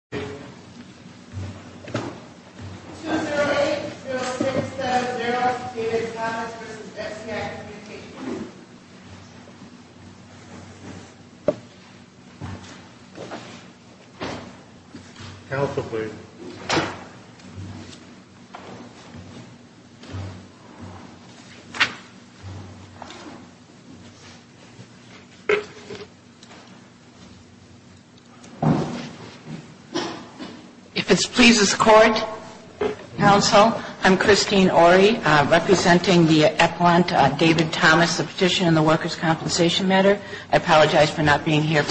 Michael J. Parker The Workers' Compensation Commission If it pleases the Court, Counsel, I'm Christine Orry, representing the Appellant David Thomas, the Petition on the Workers' Compensation matter. I apologize for not being here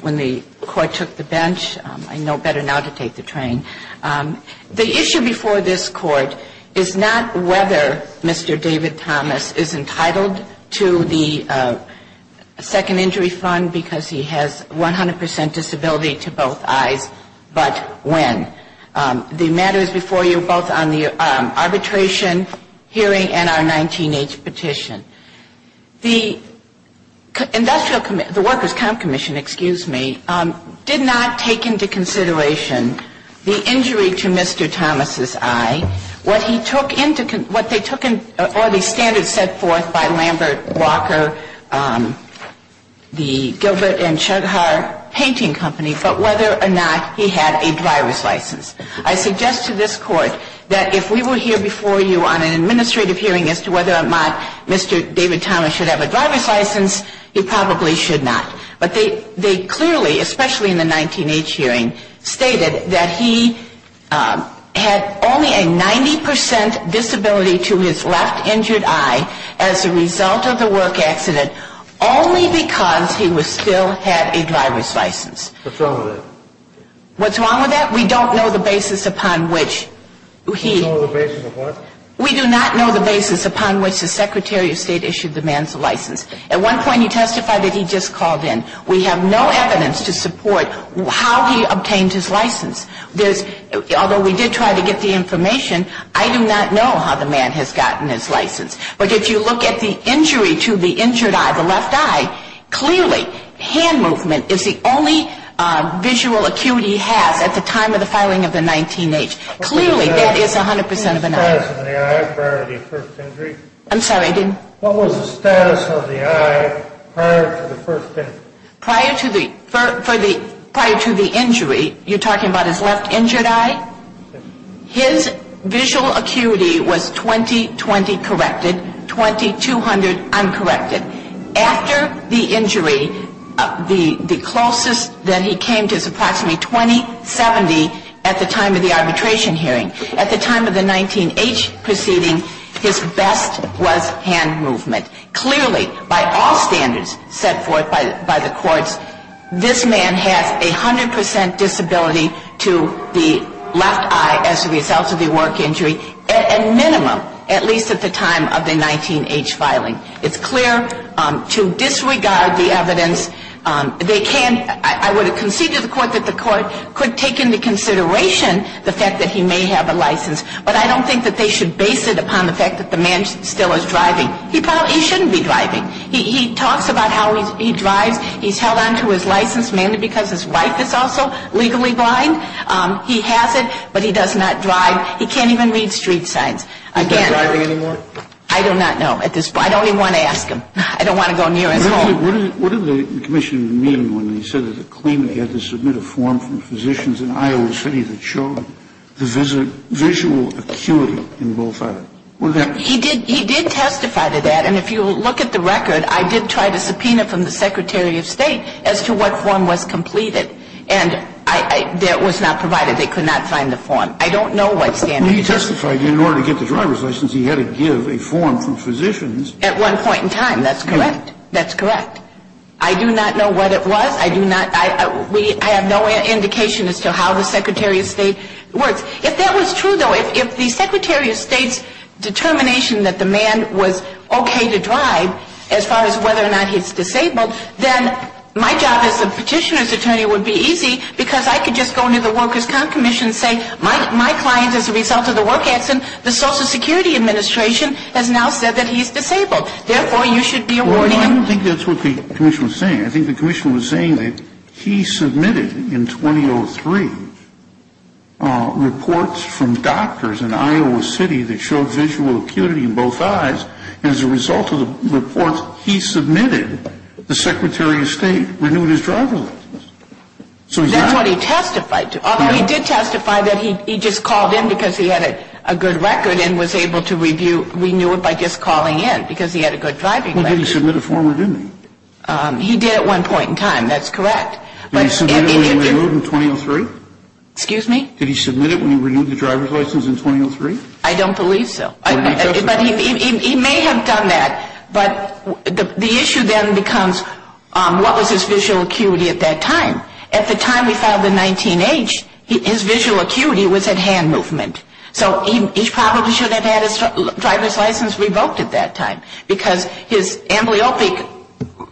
when the Court took the bench. I know better now to take the train. The issue before this Court is not whether Mr. David Thomas is entitled to the Second Injury Fund because he has 100 percent disability to both eyes, but when. The matter is before you both on the arbitration, hearing, and our 19-H petition. The Industrial Commission, the Workers' Comp Commission, excuse me, did not take into consideration the injury to Mr. Thomas' eye. What he took into, what they took into, or the standards set forth by Lambert, Walker, the Gilbert and Chughar Painting Company, but whether or not he had a driver's license. I suggest to this Court that if we were here before you on an administrative hearing as to whether or not Mr. David Thomas should have a driver's license, he probably should not. But they clearly, especially in the 19-H hearing, stated that he had only a 90 percent disability to his left injured eye as a result of the work accident only because he still had a driver's license. What's wrong with that? What's wrong with that? We don't know the basis upon which he... You don't know the basis of what? We do not know the basis upon which the Secretary of State issued the man's license. At one point he testified that he just called in. We have no evidence to support how he obtained his license. Although we did try to get the information, I do not know how the man has gotten his license. But if you look at the injury to the injured eye, the left eye, clearly hand movement is the only visual acuity he has at the time of the filing of the 19-H. Clearly that is 100 percent of an eye. What was the status of the eye prior to the first injury? I'm sorry, I didn't... What was the status of the eye prior to the first injury? Prior to the injury, you're talking about his left injured eye? Yes. His visual acuity was 20-20 corrected, 20-200 uncorrected. After the injury, the closest that he came to is approximately 20-70 at the time of the arbitration hearing. At the time of the 19-H proceeding, his best was hand movement. Clearly, by all standards set forth by the courts, this man has a 100 percent disability to the left eye as a result of the work injury, at minimum, at least at the time of the 19-H filing. It's clear to disregard the evidence. They can, I would have conceded to the court that the court could take into consideration the fact that he may have a license, but I don't think that they should base it upon the fact that the man still is driving. He probably shouldn't be driving. He talks about how he drives. He's held on to his license mainly because his wife is also legally blind. He has it, but he does not drive. He can't even read street signs. He's not driving anymore? I do not know at this point. I don't even want to ask him. I don't want to go near his home. What did the commissioner mean when he said that the claimant had to submit a form from physicians in Iowa City that showed the visual acuity in both eyes? He did testify to that, and if you look at the record, I did try to subpoena from the Secretary of State as to what form was completed, and that was not provided. They could not find the form. I don't know what standard. He testified that in order to get the driver's license, he had to give a form from physicians. At one point in time, that's correct. That's correct. I do not know what it was. I do not I have no indication as to how the Secretary of State works. If that was true, though, if the Secretary of State's determination that the man was okay to drive, as far as whether or not he's disabled, then my job as the petitioner's attorney would be easy because I could just go to the Workers' Comp Commission and say, my client, as a result of the work accident, the Social Security Administration has now said that he's disabled. Therefore, you should be awarding Well, I don't think that's what the commissioner was saying. I think the commissioner was saying that he submitted in 2003 reports from doctors in Iowa City that showed visual acuity in both eyes, and as a result of the reports he submitted, the Secretary of State renewed his driver's license. That's what he testified to. Although he did testify that he just called in because he had a good record and was able to renew it by just calling in, because he had a good driving record. Well, he didn't submit a form, did he? He did at one point in time. That's correct. Did he submit it when he renewed it in 2003? Excuse me? Did he submit it when he renewed the driver's license in 2003? I don't believe so. But he may have done that, but the issue then becomes, what was his visual acuity at that time? At the time we filed the 19-H, his visual acuity was at hand movement. So he probably should have had his driver's license revoked at that time, because his amblyopic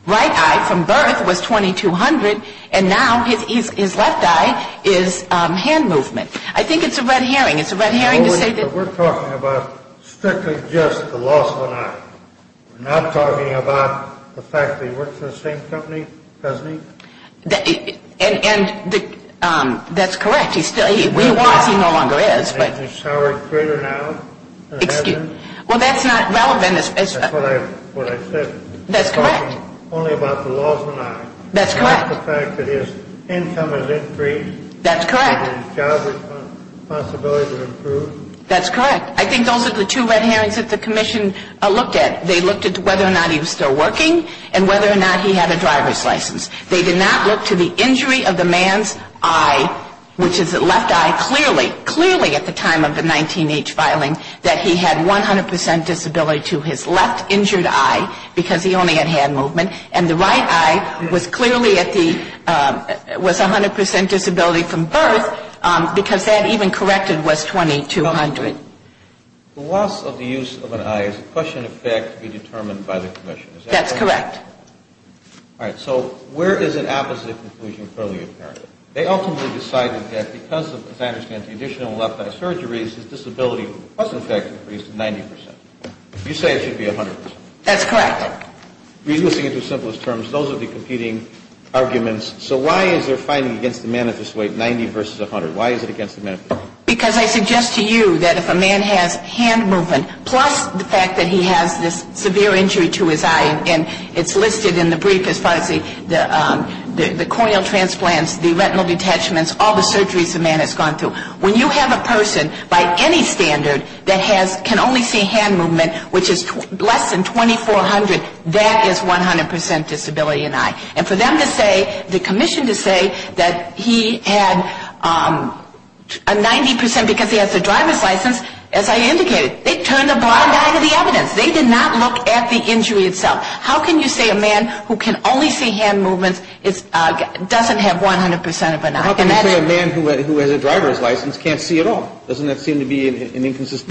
right eye from birth was 2200, and now his left eye is hand movement. I think it's a red herring. It's a red herring to say that But we're talking about strictly just the loss of an eye. We're not talking about the fact that he works for the same company, doesn't he? And that's correct. He still, he was, he no longer is, but Excuse me? Well, that's not relevant. That's what I said. That's correct. We're talking only about the loss of an eye. That's correct. Not the fact that his income has increased. That's correct. And his job is a possibility to improve. That's correct. I think those are the two red herrings that the commission looked at. They looked at whether or not he was still working, and whether or not he had a driver's license. They did not look to the injury of the man's eye, which is the left eye, clearly, at the time of the 19-H filing, that he had 100 percent disability to his left injured eye, because he only had hand movement, and the right eye was clearly at the, was 100 percent disability from birth, because that even corrected was $2,200. The loss of the use of an eye is a question of fact to be determined by the commission. Is that correct? That's correct. All right. So where is an opposite conclusion fairly apparent? They ultimately decided that because of, as I understand, the additional left eye surgeries, his disability was, in fact, increased 90 percent. You say it should be 100 percent. That's correct. Releasing it to simplest terms, those are the competing arguments. So why is their finding against the manifest weight 90 versus 100? Why is it against the manifest weight? Because I suggest to you that if a man has hand movement, plus the fact that he has this severe injury to his eye, and it's listed in the brief as far as the corneal transplants, the retinal detachments, all the surgeries a man has gone through, when you have a person by any standard that has, can only see hand movement, which is less than 2,400, that is 100 percent disability in eye. And for them to say, the commission to say that he had a 90 percent, because he has a driver's license, as I indicated, they turned the blind eye to the evidence. They did not look at the injury itself. How can you say a man who can only see hand movements doesn't have 100 percent of an eye? How can you say a man who has a driver's license can't see at all? Doesn't that seem to be an inconsistent argument?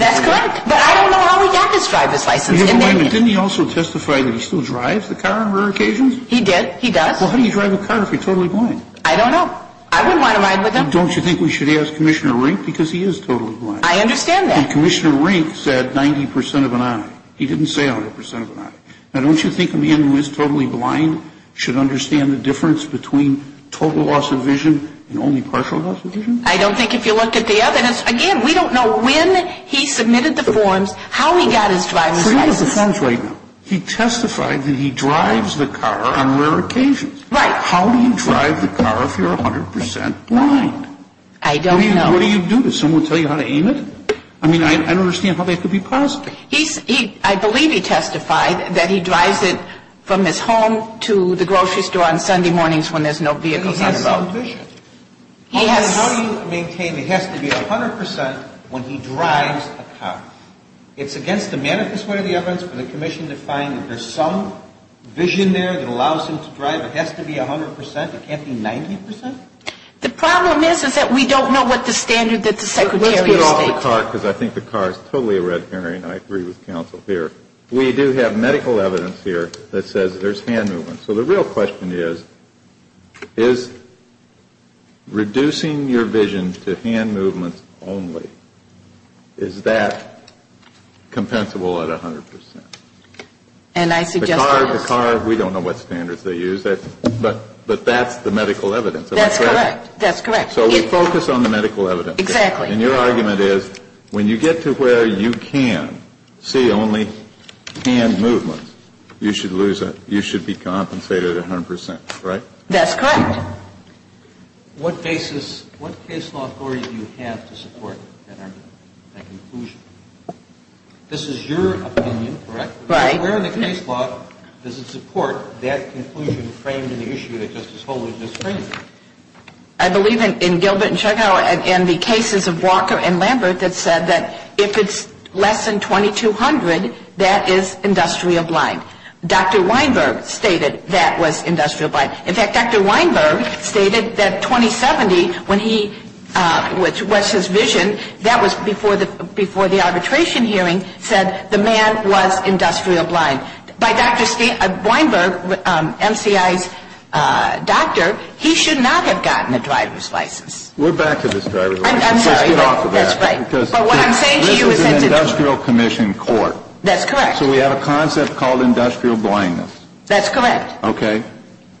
That's correct. But I don't know how he got this driver's license. Didn't he also testify that he still drives the car on rare occasions? He did. He does. Well, how do you drive a car if you're totally blind? I don't know. I wouldn't want to ride with him. Don't you think we should ask Commissioner Rink? Because he is totally blind. I understand that. And Commissioner Rink said 90 percent of an eye. He didn't say 100 percent of an eye. Now, don't you think a man who is totally blind should understand the difference between total loss of vision and only partial loss of vision? I don't think if you looked at the evidence, again, we don't know when he submitted the forms, how he got his driver's license. He testified that he drives the car on rare occasions. Right. I don't know. What do you do? Does someone tell you how to aim it? I mean, I don't understand how that could be possible. I believe he testified that he drives it from his home to the grocery store on Sunday mornings when there's no vehicles on the road. But he has some vision. He has. How do you maintain it has to be 100 percent when he drives a car? It's against the manifest way of the evidence for the commission to find that there's some vision there that allows him to drive. It has to be 100 percent. It can't be 90 percent. The problem is, is that we don't know what the standard that the secretary is stating. Let's put it on the car, because I think the car is totally a red herring. I agree with counsel here. We do have medical evidence here that says there's hand movement. So the real question is, is reducing your vision to hand movement only, is that compensable at 100 percent? And I suggest that it is. The car, we don't know what standards they use, but that's the medical evidence. That's correct. So we focus on the medical evidence. Exactly. And your argument is, when you get to where you can see only hand movement, you should lose a, you should be compensated at 100 percent, right? That's correct. What basis, what case law authority do you have to support that argument, that conclusion? This is your opinion, correct? Right. Where in the case law does it support that conclusion framed in the issue that Justice I believe in Gilbert and Chughow and the cases of Walker and Lambert that said that if it's less than 2200, that is industrial blind. Dr. Weinberg stated that was industrial blind. In fact, Dr. Weinberg stated that 2070, when he, which was his vision, that was before the arbitration hearing, said the man was industrial blind. By Dr. Weinberg, MCI's doctor, he should not have gotten a driver's license. We're back to this driver's license. I'm sorry. Let's get off of that. That's right. But what I'm saying to you is that's a This is an industrial commission court. That's correct. So we have a concept called industrial blindness. That's correct. Okay.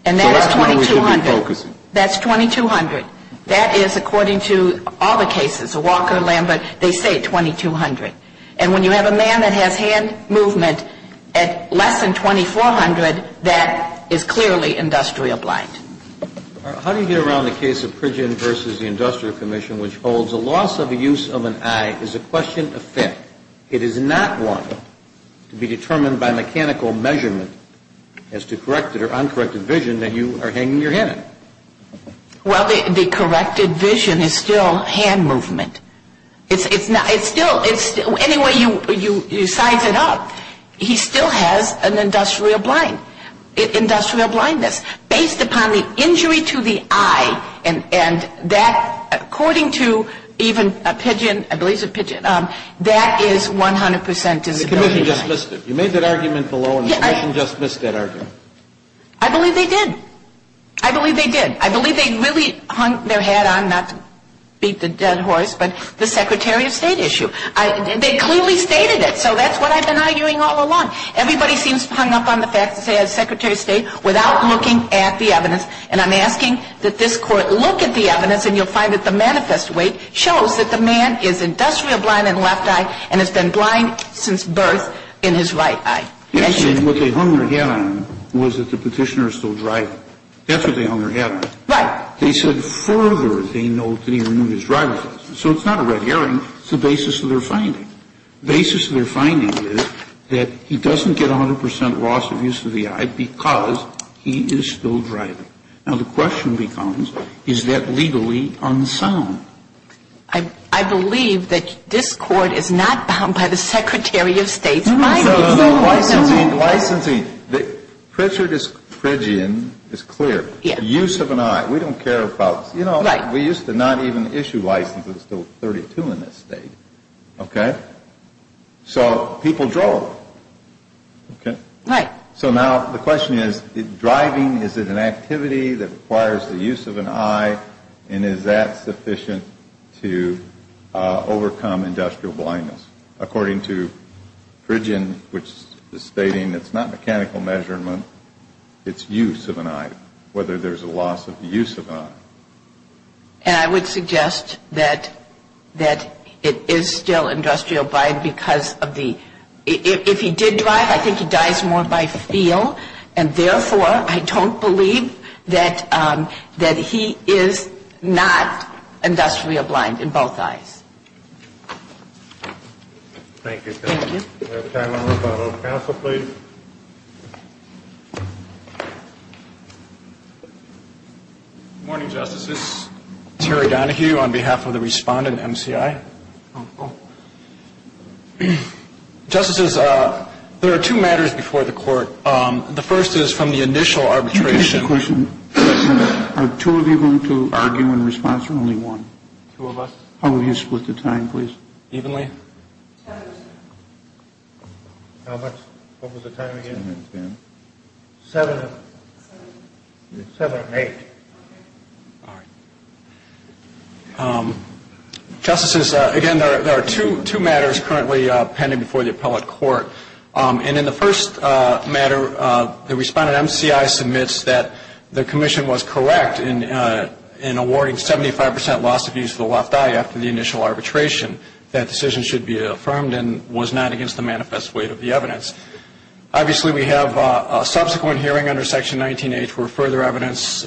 And that is 2200. So that's what we should be focusing. That's 2200. That is, according to all the cases, Walker, Lambert, they say 2200. And when you have a man that has hand movement at less than 2400, that is clearly industrial blind. How do you get around the case of Pridgen v. The Industrial Commission, which holds the loss of the use of an eye is a question of fit? It is not one to be determined by mechanical measurement as to corrected or uncorrected vision that you are hanging your hand in? Well, the corrected vision is still hand movement. It's still, anyway you size it up, he still has an industrial blind, industrial blindness. Based upon the injury to the eye and that, according to even a Pidgen, I believe it's a Pidgen, that is 100% disability. The commission just missed it. You made that argument below and the commission just missed that argument. I believe they did. I believe they did. I'm not to beat the dead horse, but the Secretary of State issue, they clearly stated it. So that's what I've been arguing all along. Everybody seems hung up on the fact that they had a Secretary of State without looking at the evidence. And I'm asking that this court look at the evidence and you'll find that the manifest weight shows that the man is industrial blind in the left eye and has been blind since birth in his right eye. What they hung their head on was that the petitioner is still driving. That's what they hung their head on. Right. They said further, they note, that he renewed his driver's license. So it's not a red herring. It's the basis of their finding. The basis of their finding is that he doesn't get 100% loss of use of the eye because he is still driving. Now, the question becomes, is that legally unsound? I believe that this court is not bound by the Secretary of State's findings. Licensing. Licensing. Pritchard is, Pridgian is clear. Use of an eye. We don't care about, you know, we used to not even issue licenses until 32 in this state. Okay. So people drove. Okay. Right. So now the question is, driving, is it an activity that requires the use of an eye and is that sufficient to overcome industrial blindness? According to Pridgian, which is stating it's not mechanical measurement, it's use of an eye. Whether there's a loss of the use of an eye. And I would suggest that it is still industrial blind because of the, if he did drive, I think he dies more by feel. And therefore, I don't believe that he is not industrially blind in both eyes. Thank you. Thank you. We have time for one more. Counsel, please. Good morning, Justices. Terry Donohue on behalf of the respondent, MCI. Justice, there are two matters before the Court. The first is from the initial arbitration. Are two of you going to argue in response or only one? Two of us. How will you split the time, please? Evenly. Seven. What was the time again? Seven. Seven and eight. All right. Justices, again, there are two matters currently pending before the appellate court. And in the first matter, the respondent, MCI, submits that the commission was correct in awarding 75 percent loss of use of the left eye after the initial arbitration. That decision should be affirmed and was not against the manifest weight of the evidence. Obviously, we have a subsequent hearing under Section 19H for further evidence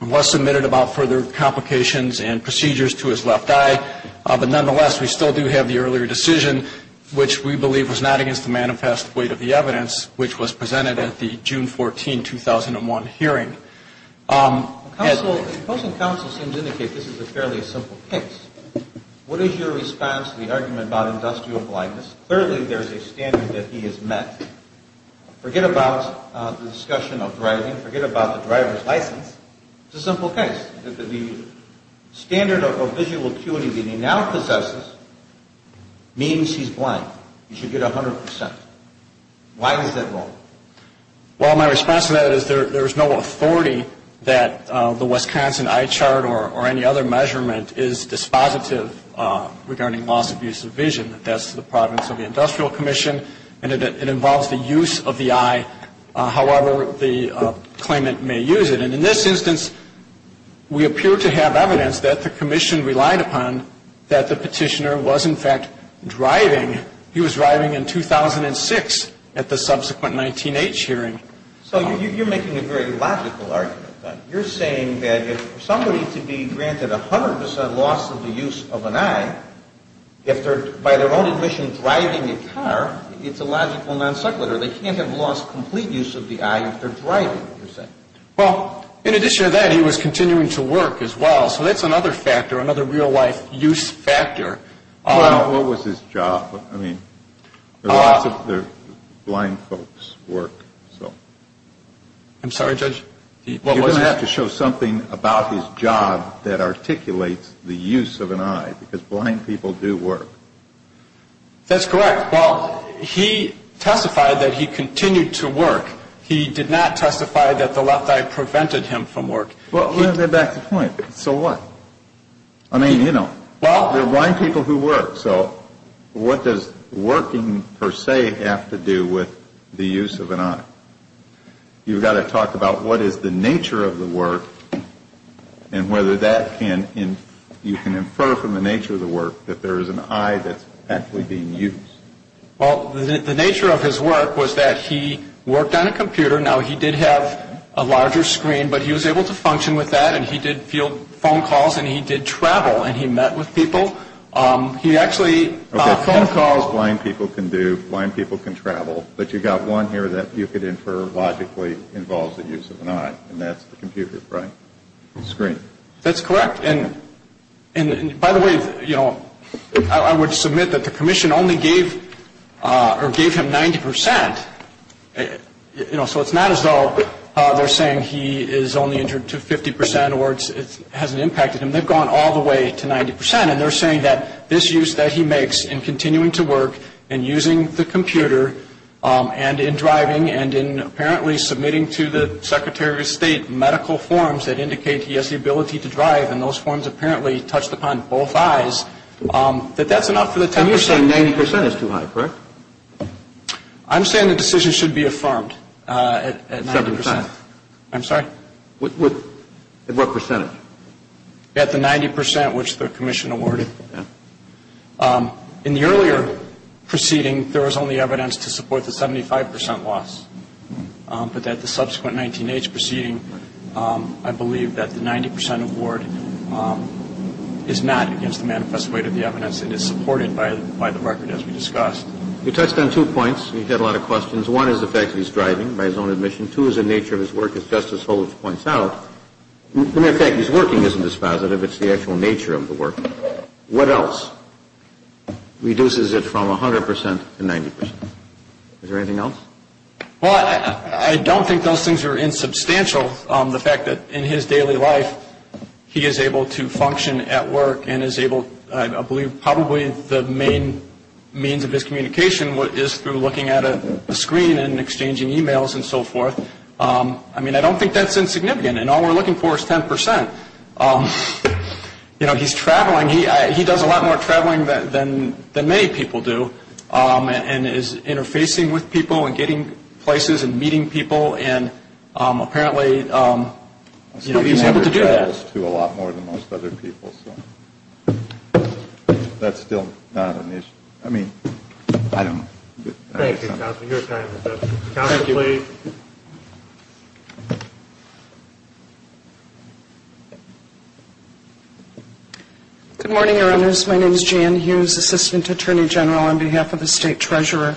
was submitted about further complications and procedures to his left eye. But nonetheless, we still do have the earlier decision, which we believe was not against the manifest weight of the evidence, which was presented at the June 14, 2001 hearing. The opposing counsel seems to indicate this is a fairly simple case. What is your response to the argument about industrial blindness? Clearly, there is a standard that he has met. Forget about the discussion of driving. Forget about the driver's license. It's a simple case. The standard of visual acuity that he now possesses means he's blind. He should get 100 percent. Why is that wrong? Well, my response to that is there is no authority that the Wisconsin eye chart or any other measurement is dispositive regarding loss of use of vision. That's the province of the Industrial Commission. And it involves the use of the eye, however the claimant may use it. And in this instance, we appear to have evidence that the commission relied upon that the petitioner was, in fact, driving. He was driving in 2006 at the subsequent 19H hearing. So you're making a very logical argument. You're saying that for somebody to be granted 100 percent loss of the use of an eye, if they're, by their own admission, driving a car, it's a logical non sequitur. They can't have lost complete use of the eye if they're driving, you're saying. Well, in addition to that, he was continuing to work as well. So that's another factor, another real-life use factor. Well, what was his job? I mean, there are lots of blind folks' work, so. I'm sorry, Judge? You're going to have to show something about his job that articulates the use of an eye, because blind people do work. That's correct. Well, he testified that he continued to work. He did not testify that the left eye prevented him from work. Well, let me get back to the point. So what? I mean, you know, there are blind people who work, so what does working, per se, have to do with the use of an eye? You've got to talk about what is the nature of the work and whether you can infer from the nature of the work that there is an eye that's actually being used. Well, the nature of his work was that he worked on a computer. Now, he did have a larger screen, but he was able to function with that, and he did field phone calls, and he did travel, and he met with people. He actually phone calls blind people can do, blind people can travel, but you've got one here that you could infer logically involves the use of an eye, and that's the computer, right? The screen. That's correct. And, by the way, you know, I would submit that the commission only gave him 90%, you know, so it's not as though they're saying he is only injured to 50% or it hasn't impacted him. They've gone all the way to 90%, and they're saying that this use that he makes in continuing to work and using the computer and in driving and in apparently submitting to the Secretary of State medical forms that indicate he has the ability to drive, and those forms apparently touched upon both eyes, that that's enough for the 10%. And you're saying 90% is too high, correct? I'm saying the decision should be affirmed at 90%. 75%. I'm sorry? At what percentage? At the 90% which the commission awarded. In the earlier proceeding, there was only evidence to support the 75% loss, but at the subsequent 19-H proceeding, I believe that the 90% award is not against the manifest weight of the evidence. It is supported by the record as we discussed. You touched on two points. You had a lot of questions. One is the fact that he's driving by his own admission. Two is the nature of his work, as Justice Holmes points out. As a matter of fact, his working isn't as positive. It's the actual nature of the work. What else reduces it from 100% to 90%? Is there anything else? Well, I don't think those things are insubstantial. The fact that in his daily life, he is able to function at work and is able, I believe, probably the main means of his communication is through looking at a screen and exchanging e-mails and so forth. I mean, I don't think that's insignificant, and all we're looking for is 10%. You know, he's traveling. He does a lot more traveling than many people do and is interfacing with people and getting places and meeting people, and apparently, you know, he's able to do that. He travels to a lot more than most other people, so that's still not an issue. I mean, I don't know. Thank you, counsel. Your time is up. Counsel, please. Good morning, Your Honors. My name is Jan Hughes, Assistant Attorney General on behalf of the State Treasurer.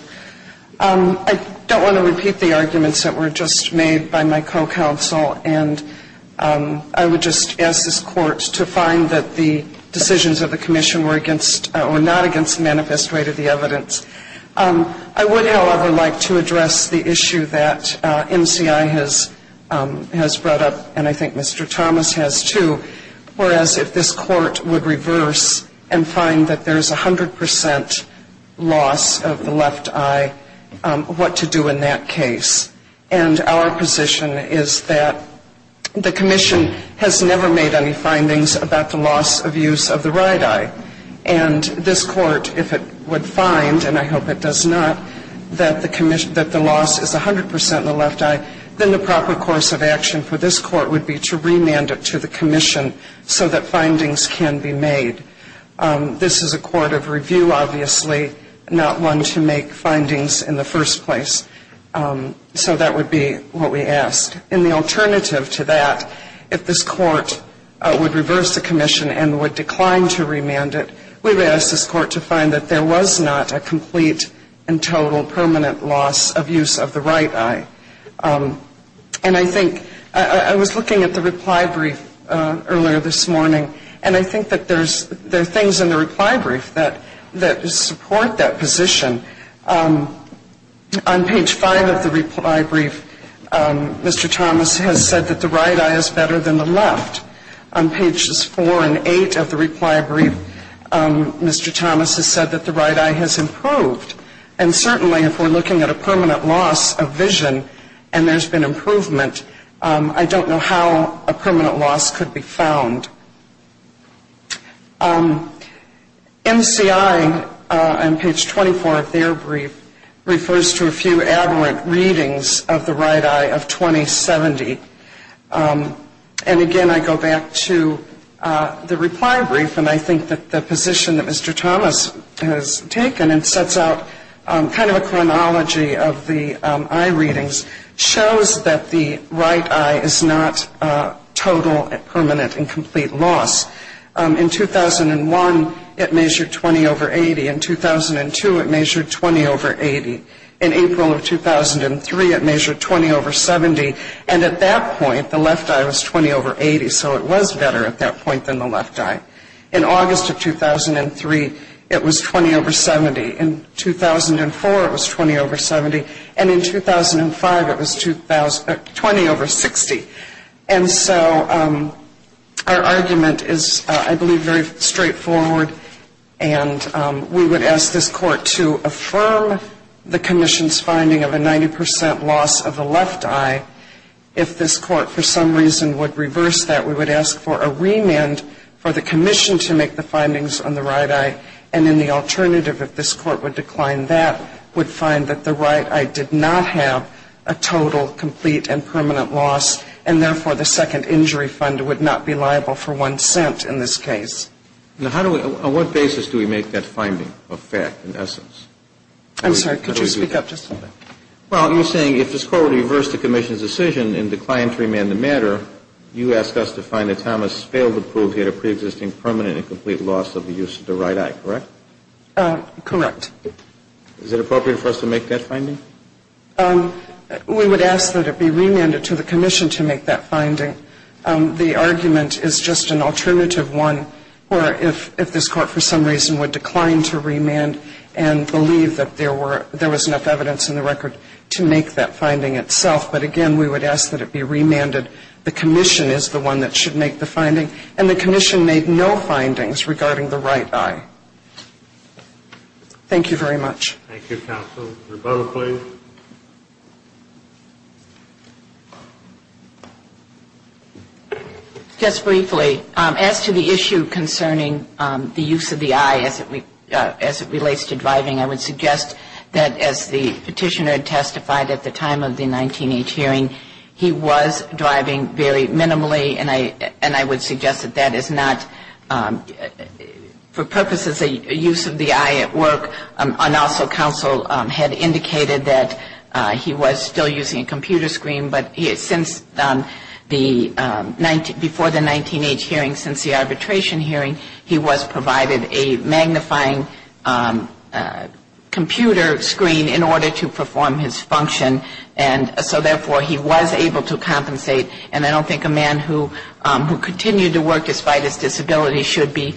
I don't want to repeat the arguments that were just made by my co-counsel, and I would just ask this Court to find that the decisions of the Commission were against or not against the manifest way to the evidence. I would, however, like to address the issue that, you know, that MCI has brought up, and I think Mr. Thomas has too, whereas if this Court would reverse and find that there's 100% loss of the left eye, what to do in that case? And our position is that the Commission has never made any findings about the loss of use of the right eye. And this Court, if it would find, and I hope it does not, that the loss is 100% in the left eye, then the proper course of action for this Court would be to remand it to the Commission so that findings can be made. This is a court of review, obviously, not one to make findings in the first place. So that would be what we ask. And the alternative to that, if this Court would reverse the Commission and would decline to remand it, we would ask this Court to find that there was not a complete and total permanent loss of use of the right eye. And I think I was looking at the reply brief earlier this morning, and I think that there are things in the reply brief that support that position. On page 5 of the reply brief, Mr. Thomas has said that the right eye is better than the left. On pages 4 and 8 of the reply brief, Mr. Thomas has said that the right eye has improved. And certainly if we're looking at a permanent loss of vision and there's been improvement, I don't know how a permanent loss could be found. NCI, on page 24 of their brief, refers to a few aberrant readings of the right eye of 2070. And again, I go back to the reply brief, and I think that the position that Mr. Thomas has taken and sets out kind of a chronology of the eye readings shows that the right eye is not total and permanent and complete loss. In 2001, it measured 20 over 80. In 2002, it measured 20 over 80. In April of 2003, it measured 20 over 70. And at that point, the left eye was 20 over 80, so it was better at that point than the left eye. In August of 2003, it was 20 over 70. In 2004, it was 20 over 70. And in 2005, it was 20 over 60. And so our argument is, I believe, very straightforward. And we would ask this court to affirm the commission's finding of a 90 percent loss of the left eye. If this court for some reason would reverse that, we would ask for a remand for the commission to make the findings on the right eye. And then the alternative, if this court would decline that, would find that the right eye did not have a total, complete, and permanent loss, and therefore the second injury fund would not be liable for one cent in this case. Now, how do we ñ on what basis do we make that finding a fact in essence? I'm sorry. Could you speak up just a little bit? Well, you're saying if this court would reverse the commission's decision and decline to remand the matter, you ask us to find that Thomas failed to prove he had a preexisting permanent and complete loss of the use of the right eye, correct? Correct. Is it appropriate for us to make that finding? We would ask that it be remanded to the commission to make that finding. The argument is just an alternative one where if this court for some reason would decline to remand and believe that there was enough evidence in the record to make that finding itself. But again, we would ask that it be remanded. The commission is the one that should make the finding. And the commission made no findings regarding the right eye. Thank you very much. Thank you, counsel. Roberta, please. Just briefly, as to the issue concerning the use of the eye as it relates to driving, I would suggest that as the petitioner testified at the time of the 19-H hearing, he was driving very minimally, and I would suggest that that is not for purposes of use of the eye at work. And also, counsel had indicated that he was still using a computer screen, but since the 19, before the 19-H hearing, since the arbitration hearing, he was provided a magnifying computer screen in order to perform his function. And so therefore, he was able to compensate. And I don't think a man who continued to work despite his disability should be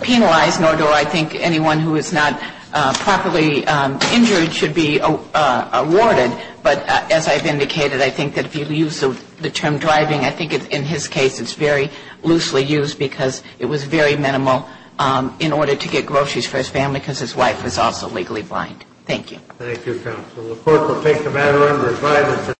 penalized, nor do I think anyone who is not properly injured should be awarded. But as I've indicated, I think that if you use the term driving, I think in his case it's very loosely used because it was very minimal in order to get groceries for his family because his wife was also legally blind. Thank you. Thank you, counsel. The court will take the matter under review.